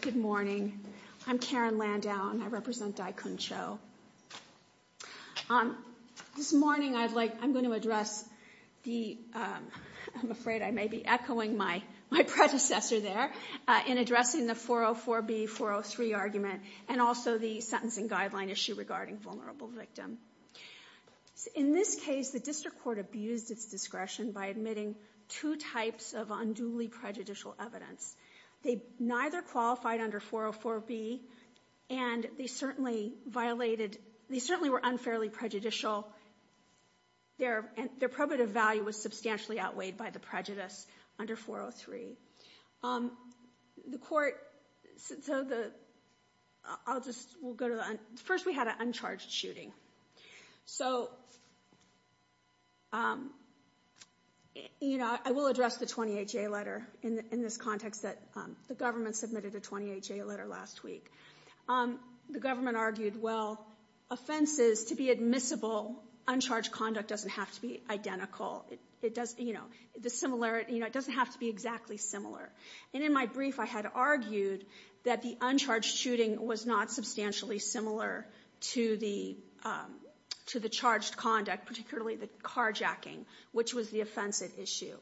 Good morning. I'm Karen Landau and I represent Daikun Cho. This morning I'm going to address the, I'm afraid I may be echoing my predecessor there, in addressing the 404B, 403 argument and also the sentencing guideline issue regarding vulnerable victim. In this case, the district court abused its discretion by admitting two types of unduly prejudicial evidence. They neither qualified under 404B and they certainly violated, they certainly were unfairly prejudicial. Their probative value was substantially outweighed by the prejudice under 403. The court, so the, I'll just, we'll go to the, first we had an uncharged shooting. So, you know, I will address the 20HA letter in this context that the government submitted a 20HA letter last week. The government argued, well, offenses to be admissible, uncharged conduct doesn't have to be identical. It doesn't, you know, the similarity, you know, it doesn't have to be exactly similar. And in my brief, I had argued that the uncharged shooting was not substantially similar to the charged conduct, particularly the carjacking, which was the offensive issue.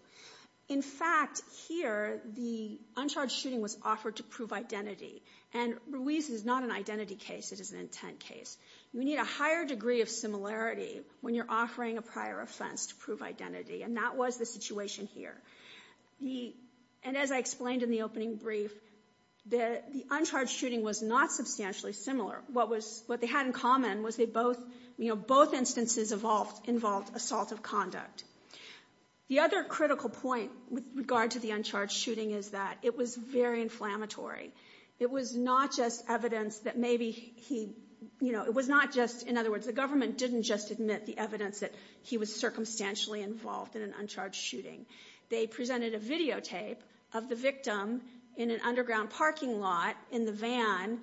In fact, here, the uncharged shooting was offered to prove identity. And Ruiz is not an identity case, it is an intent case. We need a higher degree of similarity when you're offering a prior offense to prove identity. And that was the situation here. And as I explained in the opening brief, the uncharged shooting was not substantially similar. What they had in common was they both, you know, both instances involved assault of conduct. The other critical point with regard to the uncharged shooting is that it was very inflammatory. It was not just evidence that maybe he, you know, it was not just, in other words, the government didn't just admit the evidence that he was circumstantially involved in an uncharged shooting. They presented a videotape of the victim in an underground parking lot in the van,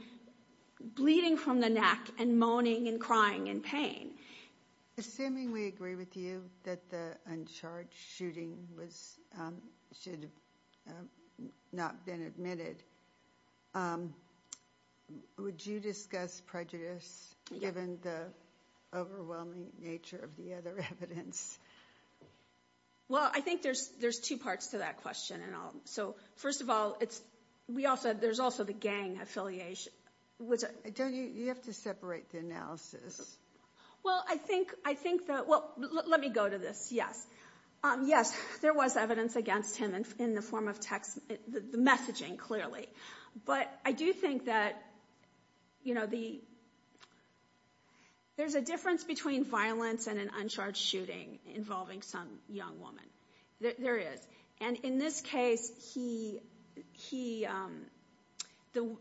bleeding from the neck and moaning and crying in pain. Assuming we agree with you that the uncharged shooting was, should not been admitted, would you discuss prejudice given the overwhelming nature of the other evidence? Well, I think there's two parts to that question. So, first of all, there's also the gang affiliation. Don't you, you have to separate the analysis. Well, I think that, well, let me go to this, yes. Yes, there was evidence against him in the form of text, the messaging, clearly. But I do think that, you know, there's a difference between violence and an uncharged shooting involving some young woman. There is. And in this case, he,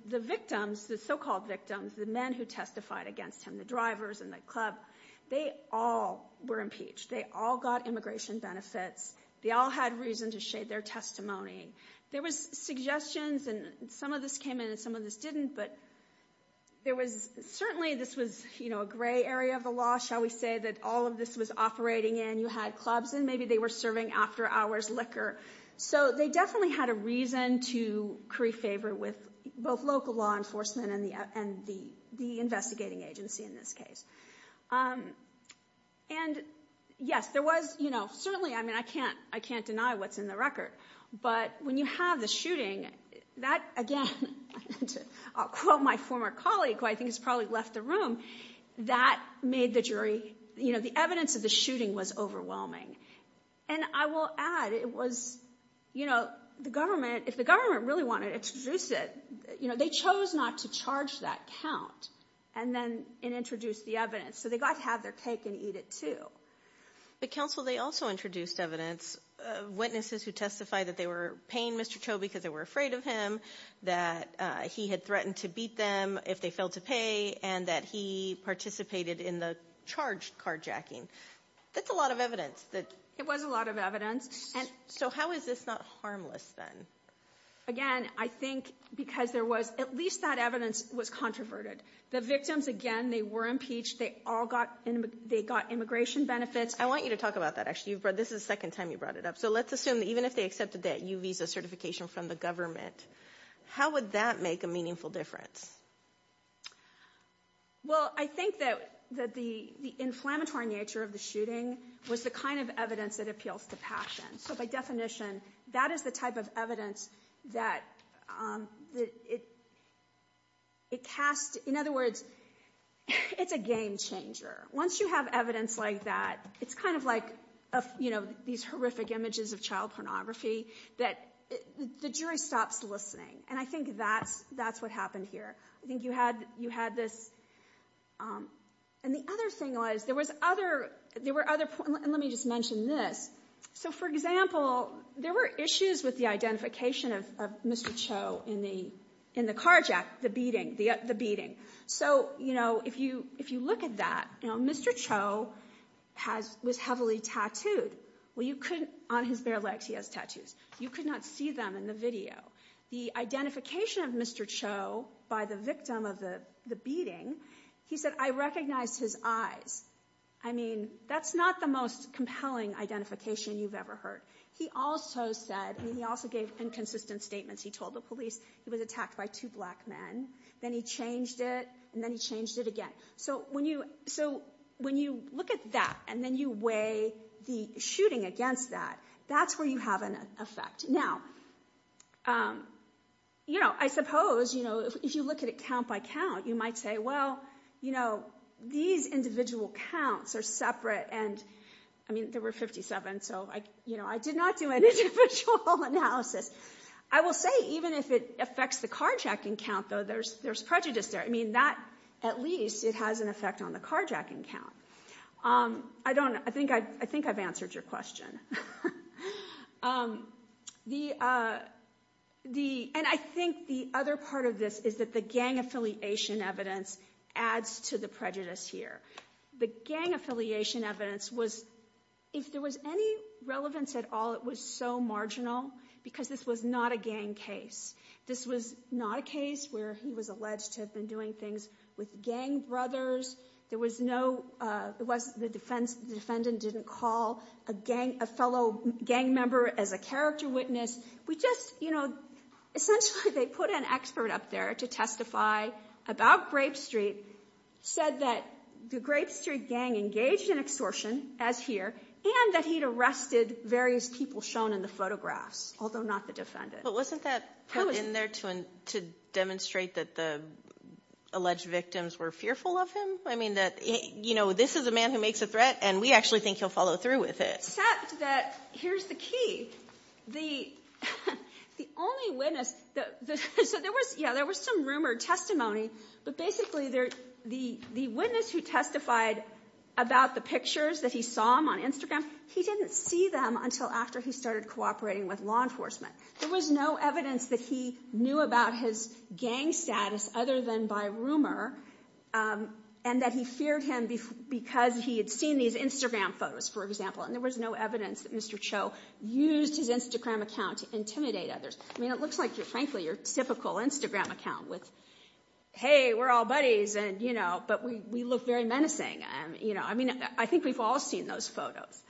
the victims, the so-called victims, the men who testified against him, the drivers and the club, they all were impeached. They all got immigration benefits. They all had reason to shade their testimony. There was suggestions, and some of this came in and some of this didn't, but there was, certainly this was, you know, a gray area of the law, shall we say, that all of this was operating in. You had clubs in. Maybe they were serving after-hours liquor. So they definitely had a reason to curry favor with both local law enforcement and the investigating agency in this case. And, yes, there was, you know, certainly, I mean, I can't deny what's in the record, but when you have the shooting, that, again, I'll quote my former colleague, who I think has probably left the room, that made the jury, you know, the evidence of the shooting was overwhelming. And I will add, it was, you know, the government, the government really wanted to introduce it. You know, they chose not to charge that count, and then introduced the evidence. So they got to have their cake and eat it, too. But, counsel, they also introduced evidence, witnesses who testified that they were paying Mr. Cho because they were afraid of him, that he had threatened to beat them if they failed to pay, and that he participated in the charged carjacking. That's a lot of evidence. It was a lot of evidence. So how is this not harmless, then? Again, I think because there was, at least that evidence was controverted. The victims, again, they were impeached. They all got, they got immigration benefits. I want you to talk about that, actually. This is the second time you brought it up. So let's assume that even if they accepted that U visa certification from the government, how would that make a meaningful difference? Well, I think that the inflammatory nature of the shooting was the kind of evidence that appeals to passion. So by definition, that is the type of evidence that it casts, in other words, it's a game changer. Once you have evidence like that, it's kind of like, you know, these horrific images of child pornography, that the jury stops listening, and I think that's what happened here. I think you had this, and the other thing was, there was other, there were other, and let me just mention this. So, for example, there were issues with the identification of Mr. Cho in the carjack, the beating. So, you know, if you look at that, you know, Mr. Cho was heavily tattooed. Well, you couldn't, on his bare legs he has tattoos. You could not see them in the video. The identification of Mr. Cho by the victim of the beating, he said, I recognize his eyes. I mean, that's not the most compelling identification you've ever heard. He also said, and he also gave inconsistent statements. He told the police he was attacked by two black men. Then he changed it, and then he changed it again. So, when you look at that, and then you weigh the shooting against that, that's where you have an effect. Now, you know, I suppose, you know, if you look at it count by count, you might say, well, you know, these individual counts are separate, and, I mean, there were 57, so, you know, I did not do an individual analysis. I will say, even if it affects the carjacking count, though, there's prejudice there. I mean, that, at least, it has an effect on the carjacking count. I don't know. I think I've answered your question. And I think the other part of this is that the gang affiliation evidence adds to the prejudice here. The gang affiliation evidence was, if there was any relevance at all, it was so marginal because this was not a gang case. This was not a case where he was alleged to have been doing things with gang brothers. There was no, the defendant didn't call a fellow gang member as a character witness. We just, you know, essentially they put an expert up there to testify about Grape Street, said that the Grape Street gang engaged in extortion, as here, and that he'd arrested various people shown in the photographs, although not the defendant. But wasn't that put in there to demonstrate that the alleged victims were fearful of him? I mean, that, you know, this is a man who makes a threat, and we actually think he'll follow through with it. Except that, here's the key, the only witness, so there was, yeah, there was some rumored testimony, but basically the witness who testified about the pictures that he saw on Instagram, he didn't see them until after he started cooperating with law enforcement. There was no evidence that he knew about his gang status other than by rumor, and that he feared him because he had seen these Instagram photos, for example, and there was no evidence that Mr. Cho used his Instagram account to intimidate others. I mean, it looks like, frankly, your typical Instagram account with, hey, we're all buddies, and, you know, but we look very menacing. I mean, I think we've all seen those photos.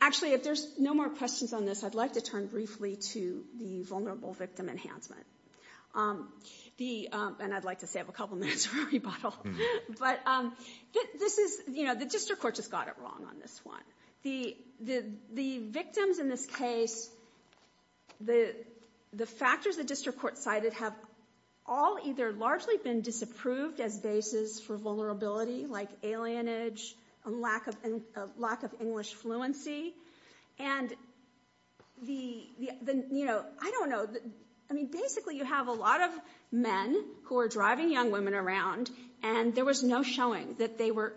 Actually, if there's no more questions on this, I'd like to turn briefly to the vulnerable victim enhancement. And I'd like to save a couple minutes for a rebuttal. But this is, you know, the district court just got it wrong on this one. The victims in this case, the factors the district court cited have all either largely been disapproved as basis for vulnerability, like alienage and lack of English fluency. And, you know, I don't know. I mean, basically you have a lot of men who are driving young women around, and there was no showing that they were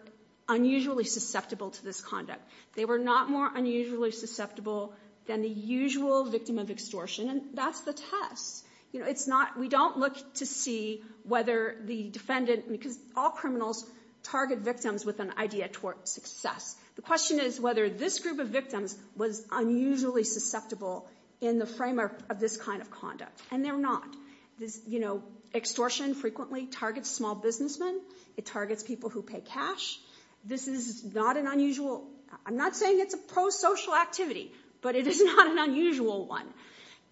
unusually susceptible to this conduct. They were not more unusually susceptible than the usual victim of extortion, and that's the test. You know, it's not, we don't look to see whether the defendant, because all criminals target victims with an idea toward success. The question is whether this group of victims was unusually susceptible in the framework of this kind of conduct. And they're not. This, you know, extortion frequently targets small businessmen. It targets people who pay cash. This is not an unusual, I'm not saying it's a pro-social activity, but it is not an unusual one.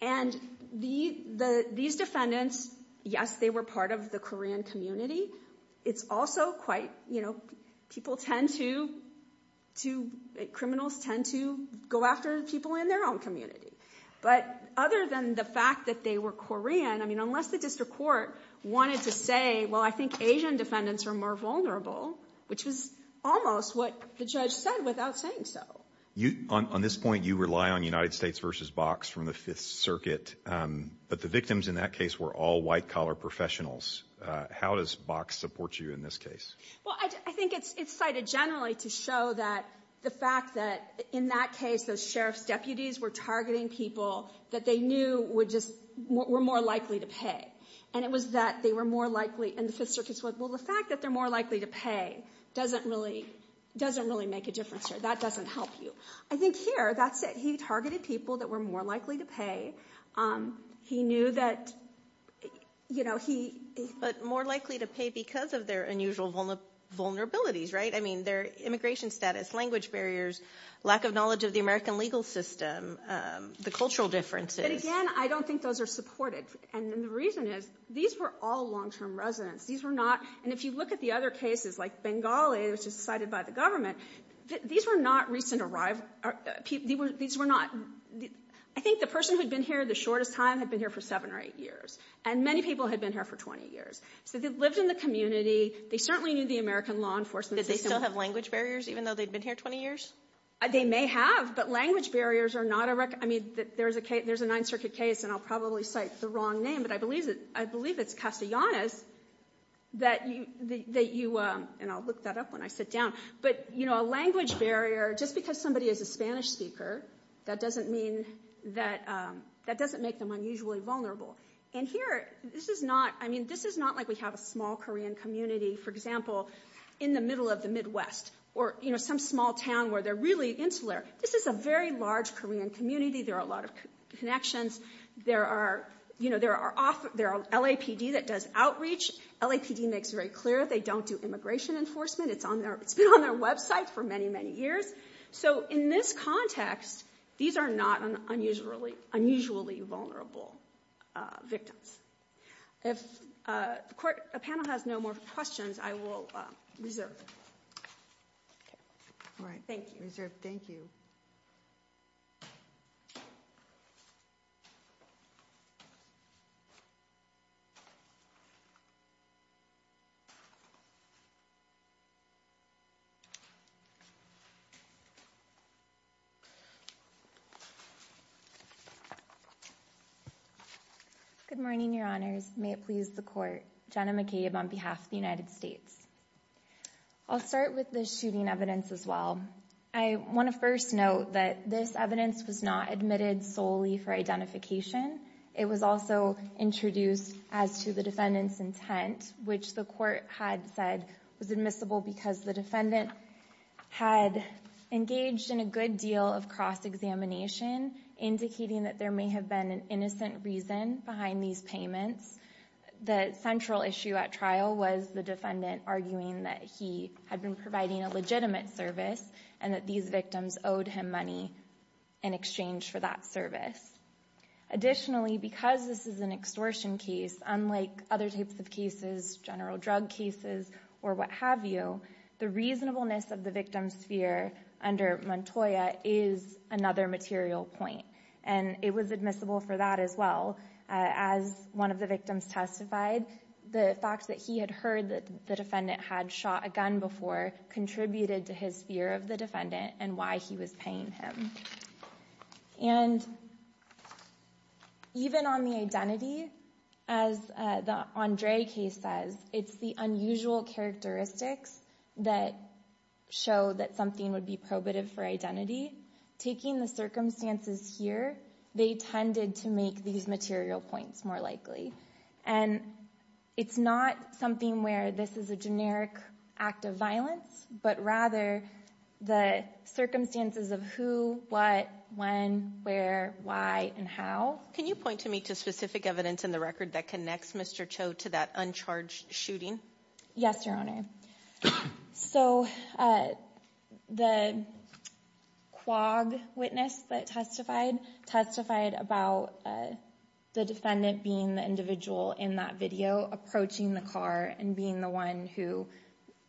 And these defendants, yes, they were part of the Korean community. It's also quite, you know, people tend to, criminals tend to go after people in their own community. But other than the fact that they were Korean, I mean, unless the district court wanted to say, well, I think Asian defendants are more vulnerable, which was almost what the judge said without saying so. On this point, you rely on United States v. Box from the Fifth Circuit, but the victims in that case were all white-collar professionals. How does Box support you in this case? Well, I think it's cited generally to show that the fact that in that case, those sheriff's deputies were targeting people that they knew were more likely to pay. And it was that they were more likely, and the Fifth Circuit said, well, the fact that they're more likely to pay doesn't really make a difference here. That doesn't help you. I think here, that's it. He targeted people that were more likely to pay. He knew that, you know, he – But more likely to pay because of their unusual vulnerabilities, right? I mean, their immigration status, language barriers, lack of knowledge of the American legal system, the cultural differences. But again, I don't think those are supported. And the reason is these were all long-term residents. These were not – and if you look at the other cases, like Bengali, which was cited by the government, these were not recent – these were not – I think the person who had been here the shortest time had been here for seven or eight years. And many people had been here for 20 years. So they lived in the community. They certainly knew the American law enforcement system. Did they still have language barriers even though they'd been here 20 years? They may have, but language barriers are not a – I mean, there's a Ninth Circuit case, and I'll probably cite the wrong name, but I believe it's Castellanos that you – and I'll look that up when I sit down. But, you know, a language barrier, just because somebody is a Spanish speaker, that doesn't mean that – that doesn't make them unusually vulnerable. And here, this is not – I mean, this is not like we have a small Korean community, for example, in the middle of the Midwest or, you know, some small town where they're really insular. This is a very large Korean community. There are a lot of connections. There are – you know, there are – there are LAPD that does outreach. LAPD makes it very clear they don't do immigration enforcement. It's on their – it's been on their website for many, many years. So in this context, these are not unusually vulnerable victims. If the panel has no more questions, I will reserve them. All right. Thank you. Thank you. Good morning, Your Honors. May it please the Court. Jenna McCabe on behalf of the United States. I'll start with the shooting evidence as well. I want to first note that this evidence was not admitted solely for identification. It was also introduced as to the defendant's intent, which the Court had said was admissible because the defendant had engaged in a good deal of cross-examination, indicating that there may have been an innocent reason behind these payments. The central issue at trial was the defendant arguing that he had been providing a legitimate service and that these victims owed him money in exchange for that service. Additionally, because this is an extortion case, unlike other types of cases, general drug cases, or what have you, the reasonableness of the victim's fear under Montoya is another material point, and it was admissible for that as well. As one of the victims testified, the fact that he had heard that the defendant had shot a gun before contributed to his fear of the defendant and why he was paying him. And even on the identity, as the Andre case says, it's the unusual characteristics that show that something would be probative for identity. Taking the circumstances here, they tended to make these material points more likely. And it's not something where this is a generic act of violence, but rather the circumstances of who, what, when, where, why, and how. Can you point to me to specific evidence in the record that connects Mr. Cho to that uncharged shooting? Yes, Your Honor. So the quag witness that testified, testified about the defendant being the individual in that video, approaching the car and being the one who,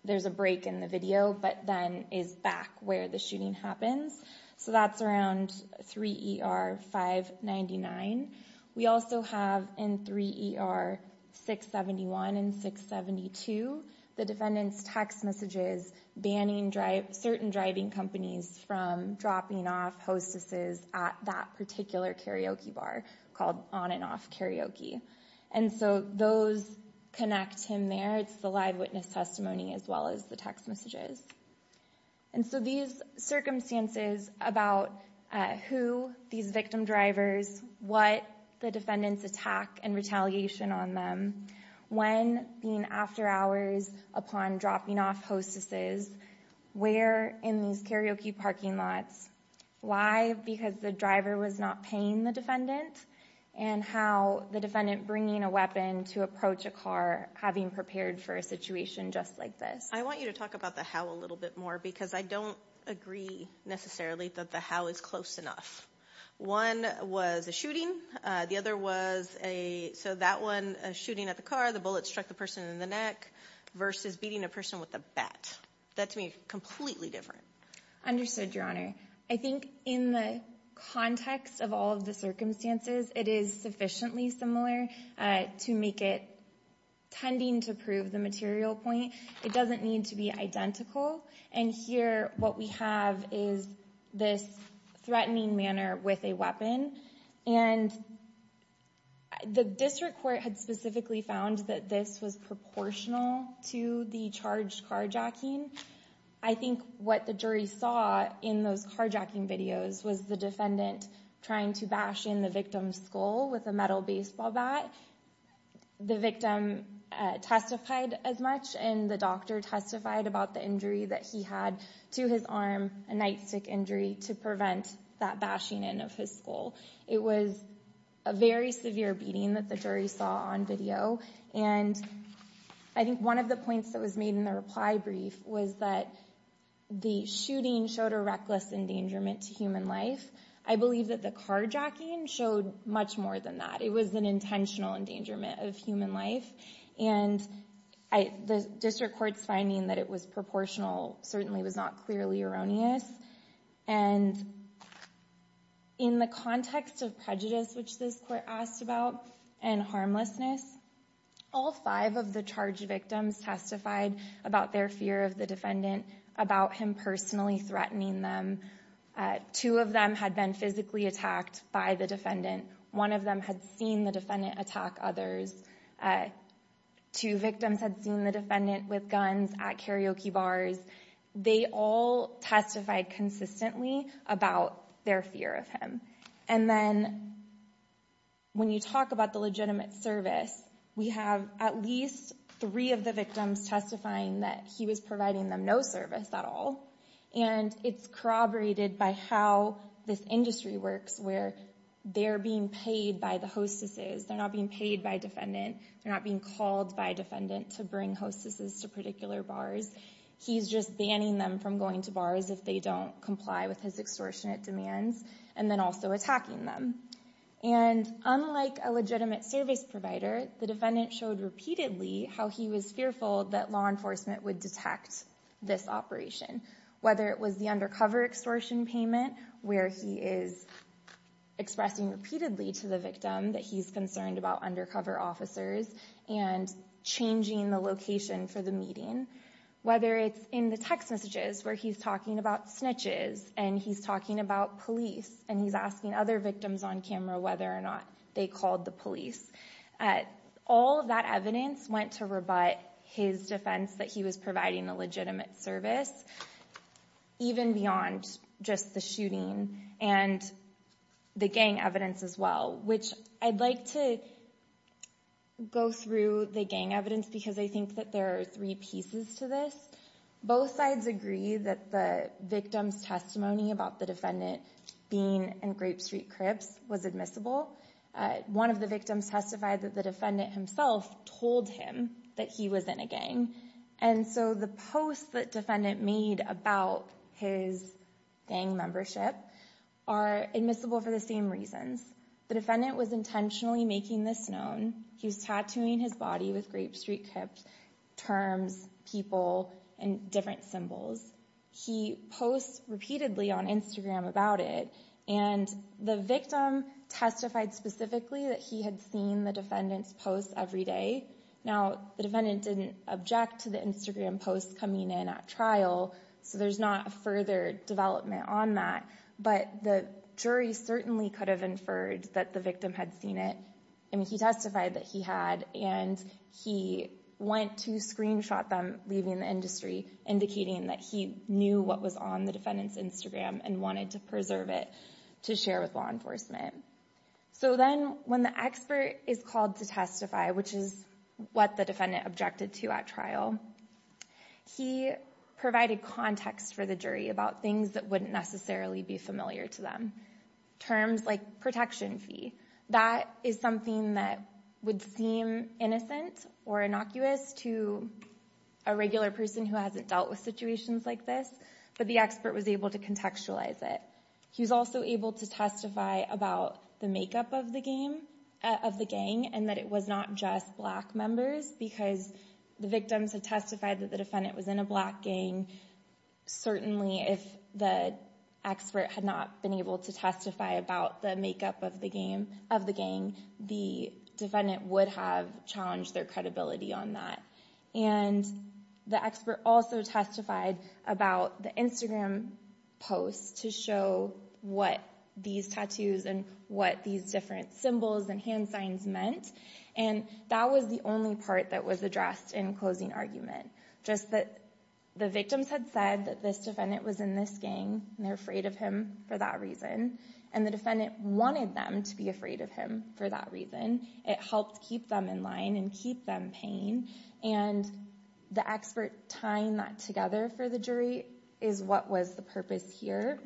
there's a break in the video, but then is back where the shooting happens. So that's around 3 ER 599. We also have in 3 ER 671 and 672, the defendant's text messages banning certain driving companies from dropping off hostesses at that particular karaoke bar called On and Off Karaoke. And so those connect him there. It's the live witness testimony as well as the text messages. And so these circumstances about who these victim drivers, what the defendant's attack and retaliation on them, when being after hours upon dropping off hostesses, where in these karaoke parking lots, why, because the driver was not paying the defendant, and how the defendant bringing a weapon to approach a car having prepared for a situation just like this. I want you to talk about the how a little bit more because I don't agree necessarily that the how is close enough. One was a shooting. The other was a, so that one, a shooting at the car. The bullet struck the person in the neck versus beating a person with a bat. That to me is completely different. Understood, Your Honor. I think in the context of all of the circumstances, it is sufficiently similar to make it tending to prove the material point. It doesn't need to be identical. And here what we have is this threatening manner with a weapon. And the district court had specifically found that this was proportional to the charged carjacking. I think what the jury saw in those carjacking videos was the defendant trying to bash in the victim's skull with a metal baseball bat. The victim testified as much, and the doctor testified about the injury that he had to his arm, a nightstick injury, to prevent that bashing in of his skull. It was a very severe beating that the jury saw on video. And I think one of the points that was made in the reply brief was that the shooting showed a reckless endangerment to human life. I believe that the carjacking showed much more than that. It was an intentional endangerment of human life. And the district court's finding that it was proportional certainly was not clearly erroneous. And in the context of prejudice, which this court asked about, and harmlessness, all five of the charged victims testified about their fear of the defendant, about him personally threatening them. Two of them had been physically attacked by the defendant. One of them had seen the defendant attack others. Two victims had seen the defendant with guns at karaoke bars. They all testified consistently about their fear of him. And then when you talk about the legitimate service, we have at least three of the victims testifying that he was providing them no service at all. And it's corroborated by how this industry works, where they're being paid by the hostesses. They're not being paid by a defendant. They're not being called by a defendant to bring hostesses to particular bars. He's just banning them from going to bars if they don't comply with his extortionate demands, and then also attacking them. And unlike a legitimate service provider, the defendant showed repeatedly how he was fearful that law enforcement would detect this operation, whether it was the undercover extortion payment, where he is expressing repeatedly to the victim that he's concerned about undercover officers and changing the location for the meeting, whether it's in the text messages where he's talking about snitches, and he's talking about police, and he's asking other victims on camera whether or not they called the police. All of that evidence went to rebut his defense that he was providing a legitimate service, even beyond just the shooting and the gang evidence as well, which I'd like to go through the gang evidence because I think that there are three pieces to this. Both sides agree that the victim's testimony about the defendant being in Grape Street Crips was admissible. One of the victims testified that the defendant himself told him that he was in a gang. And so the posts that defendant made about his gang membership are admissible for the same reasons. The defendant was intentionally making this known. He was tattooing his body with Grape Street Crips terms, people, and different symbols. He posts repeatedly on Instagram about it, and the victim testified specifically that he had seen the defendant's posts every day. Now, the defendant didn't object to the Instagram posts coming in at trial, so there's not further development on that, but the jury certainly could have inferred that the victim had seen it. I mean, he testified that he had, and he went to screenshot them leaving the industry, indicating that he knew what was on the defendant's Instagram and wanted to preserve it to share with law enforcement. So then when the expert is called to testify, which is what the defendant objected to at trial, he provided context for the jury about things that wouldn't necessarily be familiar to them, terms like protection fee. That is something that would seem innocent or innocuous to a regular person who hasn't dealt with situations like this, but the expert was able to contextualize it. He was also able to testify about the makeup of the gang and that it was not just black members because the victims had testified that the defendant was in a black gang. Certainly, if the expert had not been able to testify about the makeup of the gang, the defendant would have challenged their credibility on that. And the expert also testified about the Instagram posts to show what these tattoos and what these different symbols and hand signs meant, and that was the only part that was addressed in closing argument. Just that the victims had said that this defendant was in this gang and they're afraid of him for that reason, and the defendant wanted them to be afraid of him for that reason. It helped keep them in line and keep them paying, and the expert tying that together for the jury is what was the purpose here.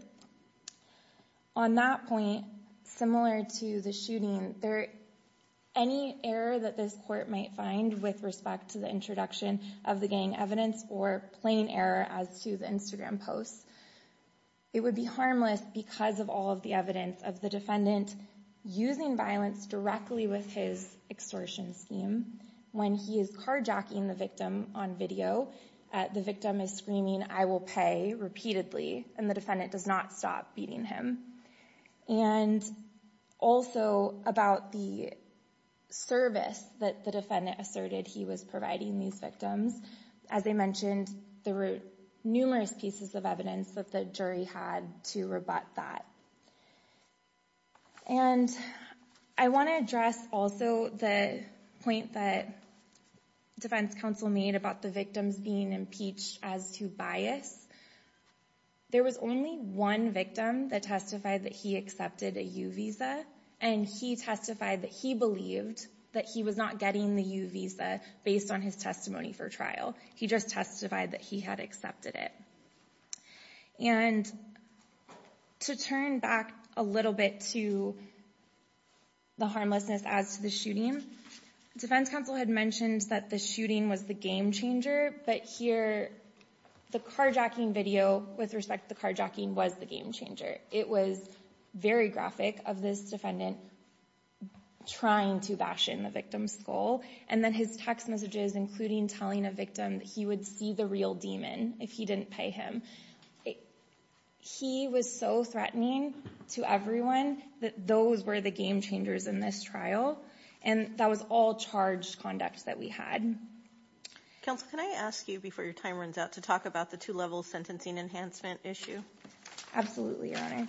On that point, similar to the shooting, any error that this court might find with respect to the introduction of the gang evidence or plain error as to the Instagram posts, it would be harmless because of all of the evidence of the defendant using violence directly with his extortion scheme. When he is carjacking the victim on video, the victim is screaming, I will pay, repeatedly, and the defendant does not stop beating him. And also about the service that the defendant asserted he was providing these victims, as I mentioned, there were numerous pieces of evidence that the jury had to rebut that. And I want to address also the point that defense counsel made about the victims being impeached as to bias. There was only one victim that testified that he accepted a U visa, and he testified that he believed that he was not getting the U visa based on his testimony for trial. He just testified that he had accepted it. And to turn back a little bit to the harmlessness as to the shooting, defense counsel had mentioned that the shooting was the game changer, but here the carjacking video, with respect to the carjacking, was the game changer. It was very graphic of this defendant trying to bash in the victim's skull, and then his text messages, including telling a victim that he would see the real demon if he didn't pay him. He was so threatening to everyone that those were the game changers in this trial, and that was all charged conduct that we had. Counsel, can I ask you, before your time runs out, to talk about the two-level sentencing enhancement issue? Absolutely, Your Honor.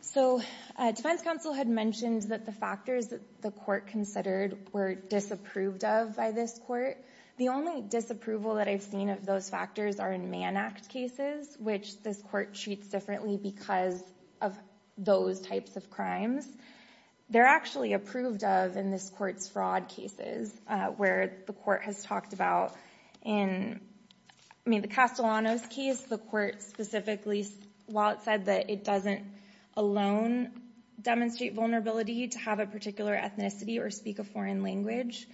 So, defense counsel had mentioned that the factors that the court considered were disapproved of by this court. The only disapproval that I've seen of those factors are in Mann Act cases, which this court treats differently because of those types of crimes. They're actually approved of in this court's fraud cases, where the court has talked about, in the Castellanos case, the court specifically, while it said that it doesn't alone demonstrate vulnerability to have a particular ethnicity or speak a foreign language,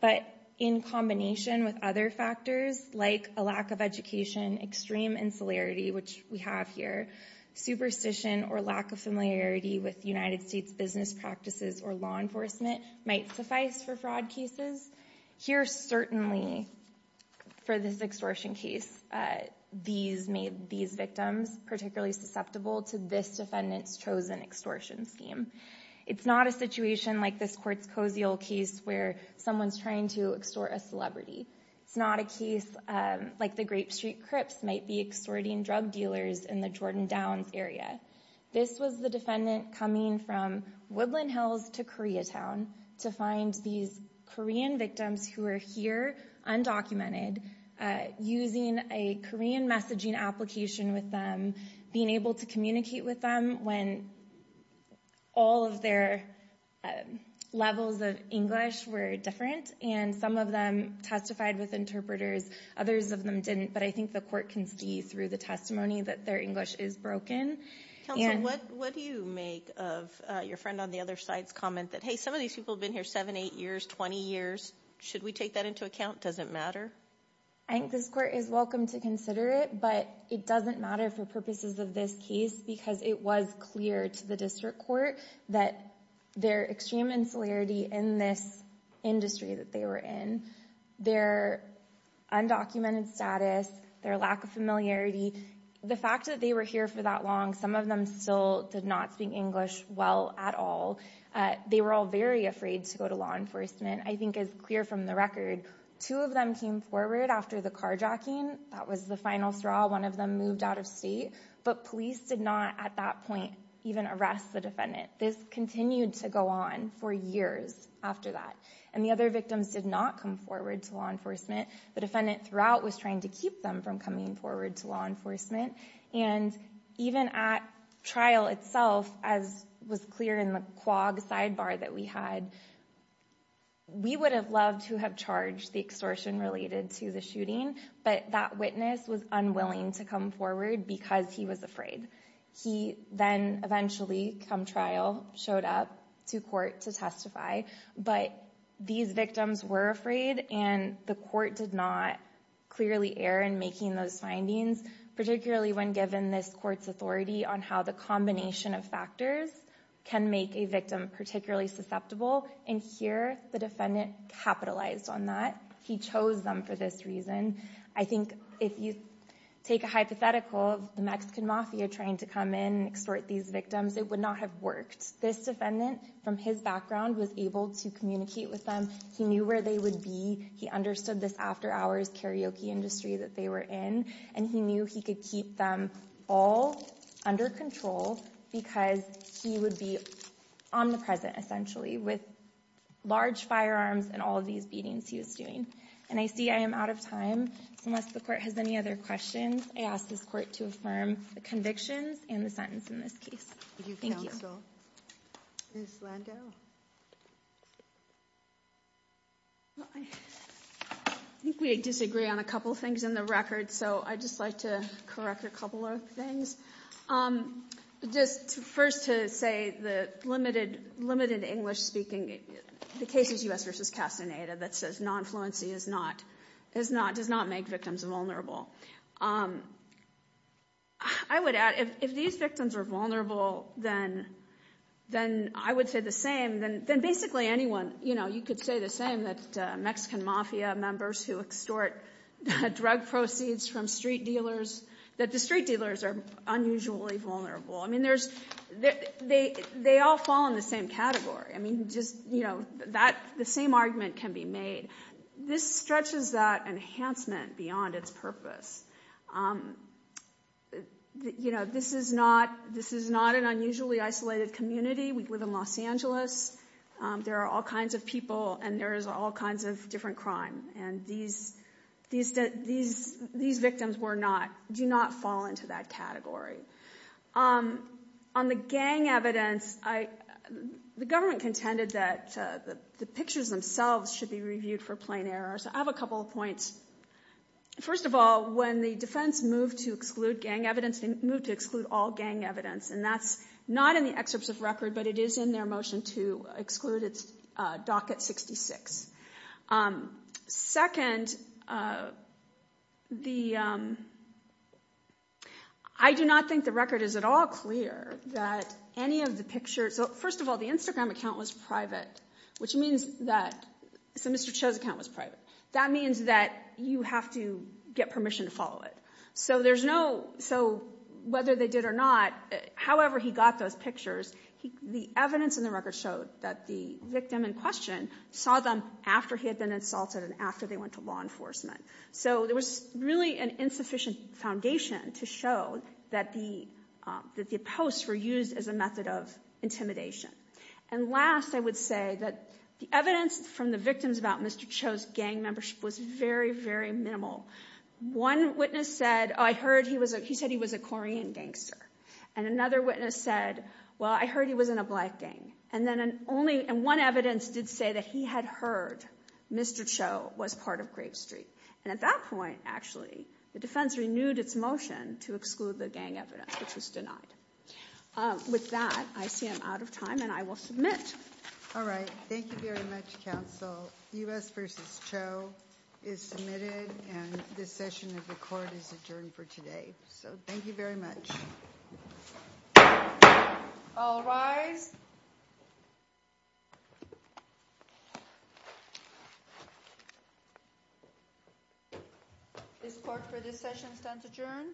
but in combination with other factors, like a lack of education, extreme insularity, which we have here, superstition or lack of familiarity with United States business practices or law enforcement might suffice for fraud cases. Here, certainly, for this extortion case, these made these victims particularly susceptible to this defendant's chosen extortion scheme. It's not a situation like this court's Koziel case, where someone's trying to extort a celebrity. It's not a case like the Grape Street Crips might be extorting drug dealers in the Jordan Downs area. This was the defendant coming from Woodland Hills to Koreatown to find these Korean victims who were here, undocumented, using a Korean messaging application with them, being able to communicate with them when all of their levels of English were different, and some of them testified with interpreters, others of them didn't, but I think the court can see through the testimony that their English is broken. Counsel, what do you make of your friend on the other side's comment that, hey, some of these people have been here 7, 8 years, 20 years. Should we take that into account? Does it matter? I think this court is welcome to consider it, but it doesn't matter for purposes of this case because it was clear to the district court that their extreme insularity in this industry that they were in, their undocumented status, their lack of familiarity, the fact that they were here for that long, some of them still did not speak English well at all. They were all very afraid to go to law enforcement. I think it's clear from the record, two of them came forward after the carjacking. That was the final straw. One of them moved out of state, but police did not at that point even arrest the defendant. This continued to go on for years after that, and the other victims did not come forward to law enforcement. The defendant throughout was trying to keep them from coming forward to law enforcement, and even at trial itself, as was clear in the quag sidebar that we had, we would have loved to have charged the extortion related to the shooting, but that witness was unwilling to come forward because he was afraid. He then eventually, come trial, showed up to court to testify, but these victims were afraid, and the court did not clearly err in making those findings, particularly when given this court's authority on how the combination of factors can make a victim particularly susceptible, and here the defendant capitalized on that. He chose them for this reason. I think if you take a hypothetical of the Mexican mafia trying to come in and extort these victims, it would not have worked. This defendant, from his background, was able to communicate with them. He knew where they would be. He understood this after-hours karaoke industry that they were in, and he knew he could keep them all under control because he would be omnipresent, essentially, with large firearms and all of these beatings he was doing. And I see I am out of time, so unless the court has any other questions, I ask this court to affirm the convictions and the sentence in this case. Thank you. Ms. Landau? I think we disagree on a couple things in the record, so I'd just like to correct a couple of things. Just first to say the limited English speaking cases, U.S. v. Castaneda, that says non-fluency does not make victims vulnerable. I would add if these victims are vulnerable, then I would say the same. Then basically anyone, you know, you could say the same, that Mexican mafia members who extort drug proceeds from street dealers, that the street dealers are unusually vulnerable. I mean, they all fall in the same category. I mean, just, you know, the same argument can be made. This stretches that enhancement beyond its purpose. You know, this is not an unusually isolated community. We live in Los Angeles. There are all kinds of people, and there is all kinds of different crime. And these victims were not, do not fall into that category. On the gang evidence, the government contended that the pictures themselves should be reviewed for plain error. So I have a couple of points. First of all, when the defense moved to exclude gang evidence, they moved to exclude all gang evidence, and that's not in the excerpts of record, but it is in their motion to exclude docket 66. Second, I do not think the record is at all clear that any of the pictures, so first of all, the Instagram account was private, which means that, so Mr. Cho's account was private. That means that you have to get permission to follow it. So there's no, so whether they did or not, however he got those pictures, the evidence in the record showed that the victim in question saw them after he had been insulted and after they went to law enforcement. So there was really an insufficient foundation to show that the posts were used as a method of intimidation. And last, I would say that the evidence from the victims about Mr. Cho's gang membership was very, very minimal. One witness said, oh, I heard he was, he said he was a Korean gangster. And another witness said, well, I heard he was in a black gang. And then only, and one evidence did say that he had heard Mr. Cho was part of Grape Street. And at that point, actually, the defense renewed its motion to exclude the gang evidence, which was denied. With that, I see I'm out of time, and I will submit. All right. Thank you very much, counsel. U.S. v. Cho is submitted, and this session of the court is adjourned for today. So thank you very much. All rise. This court for this session stands adjourned.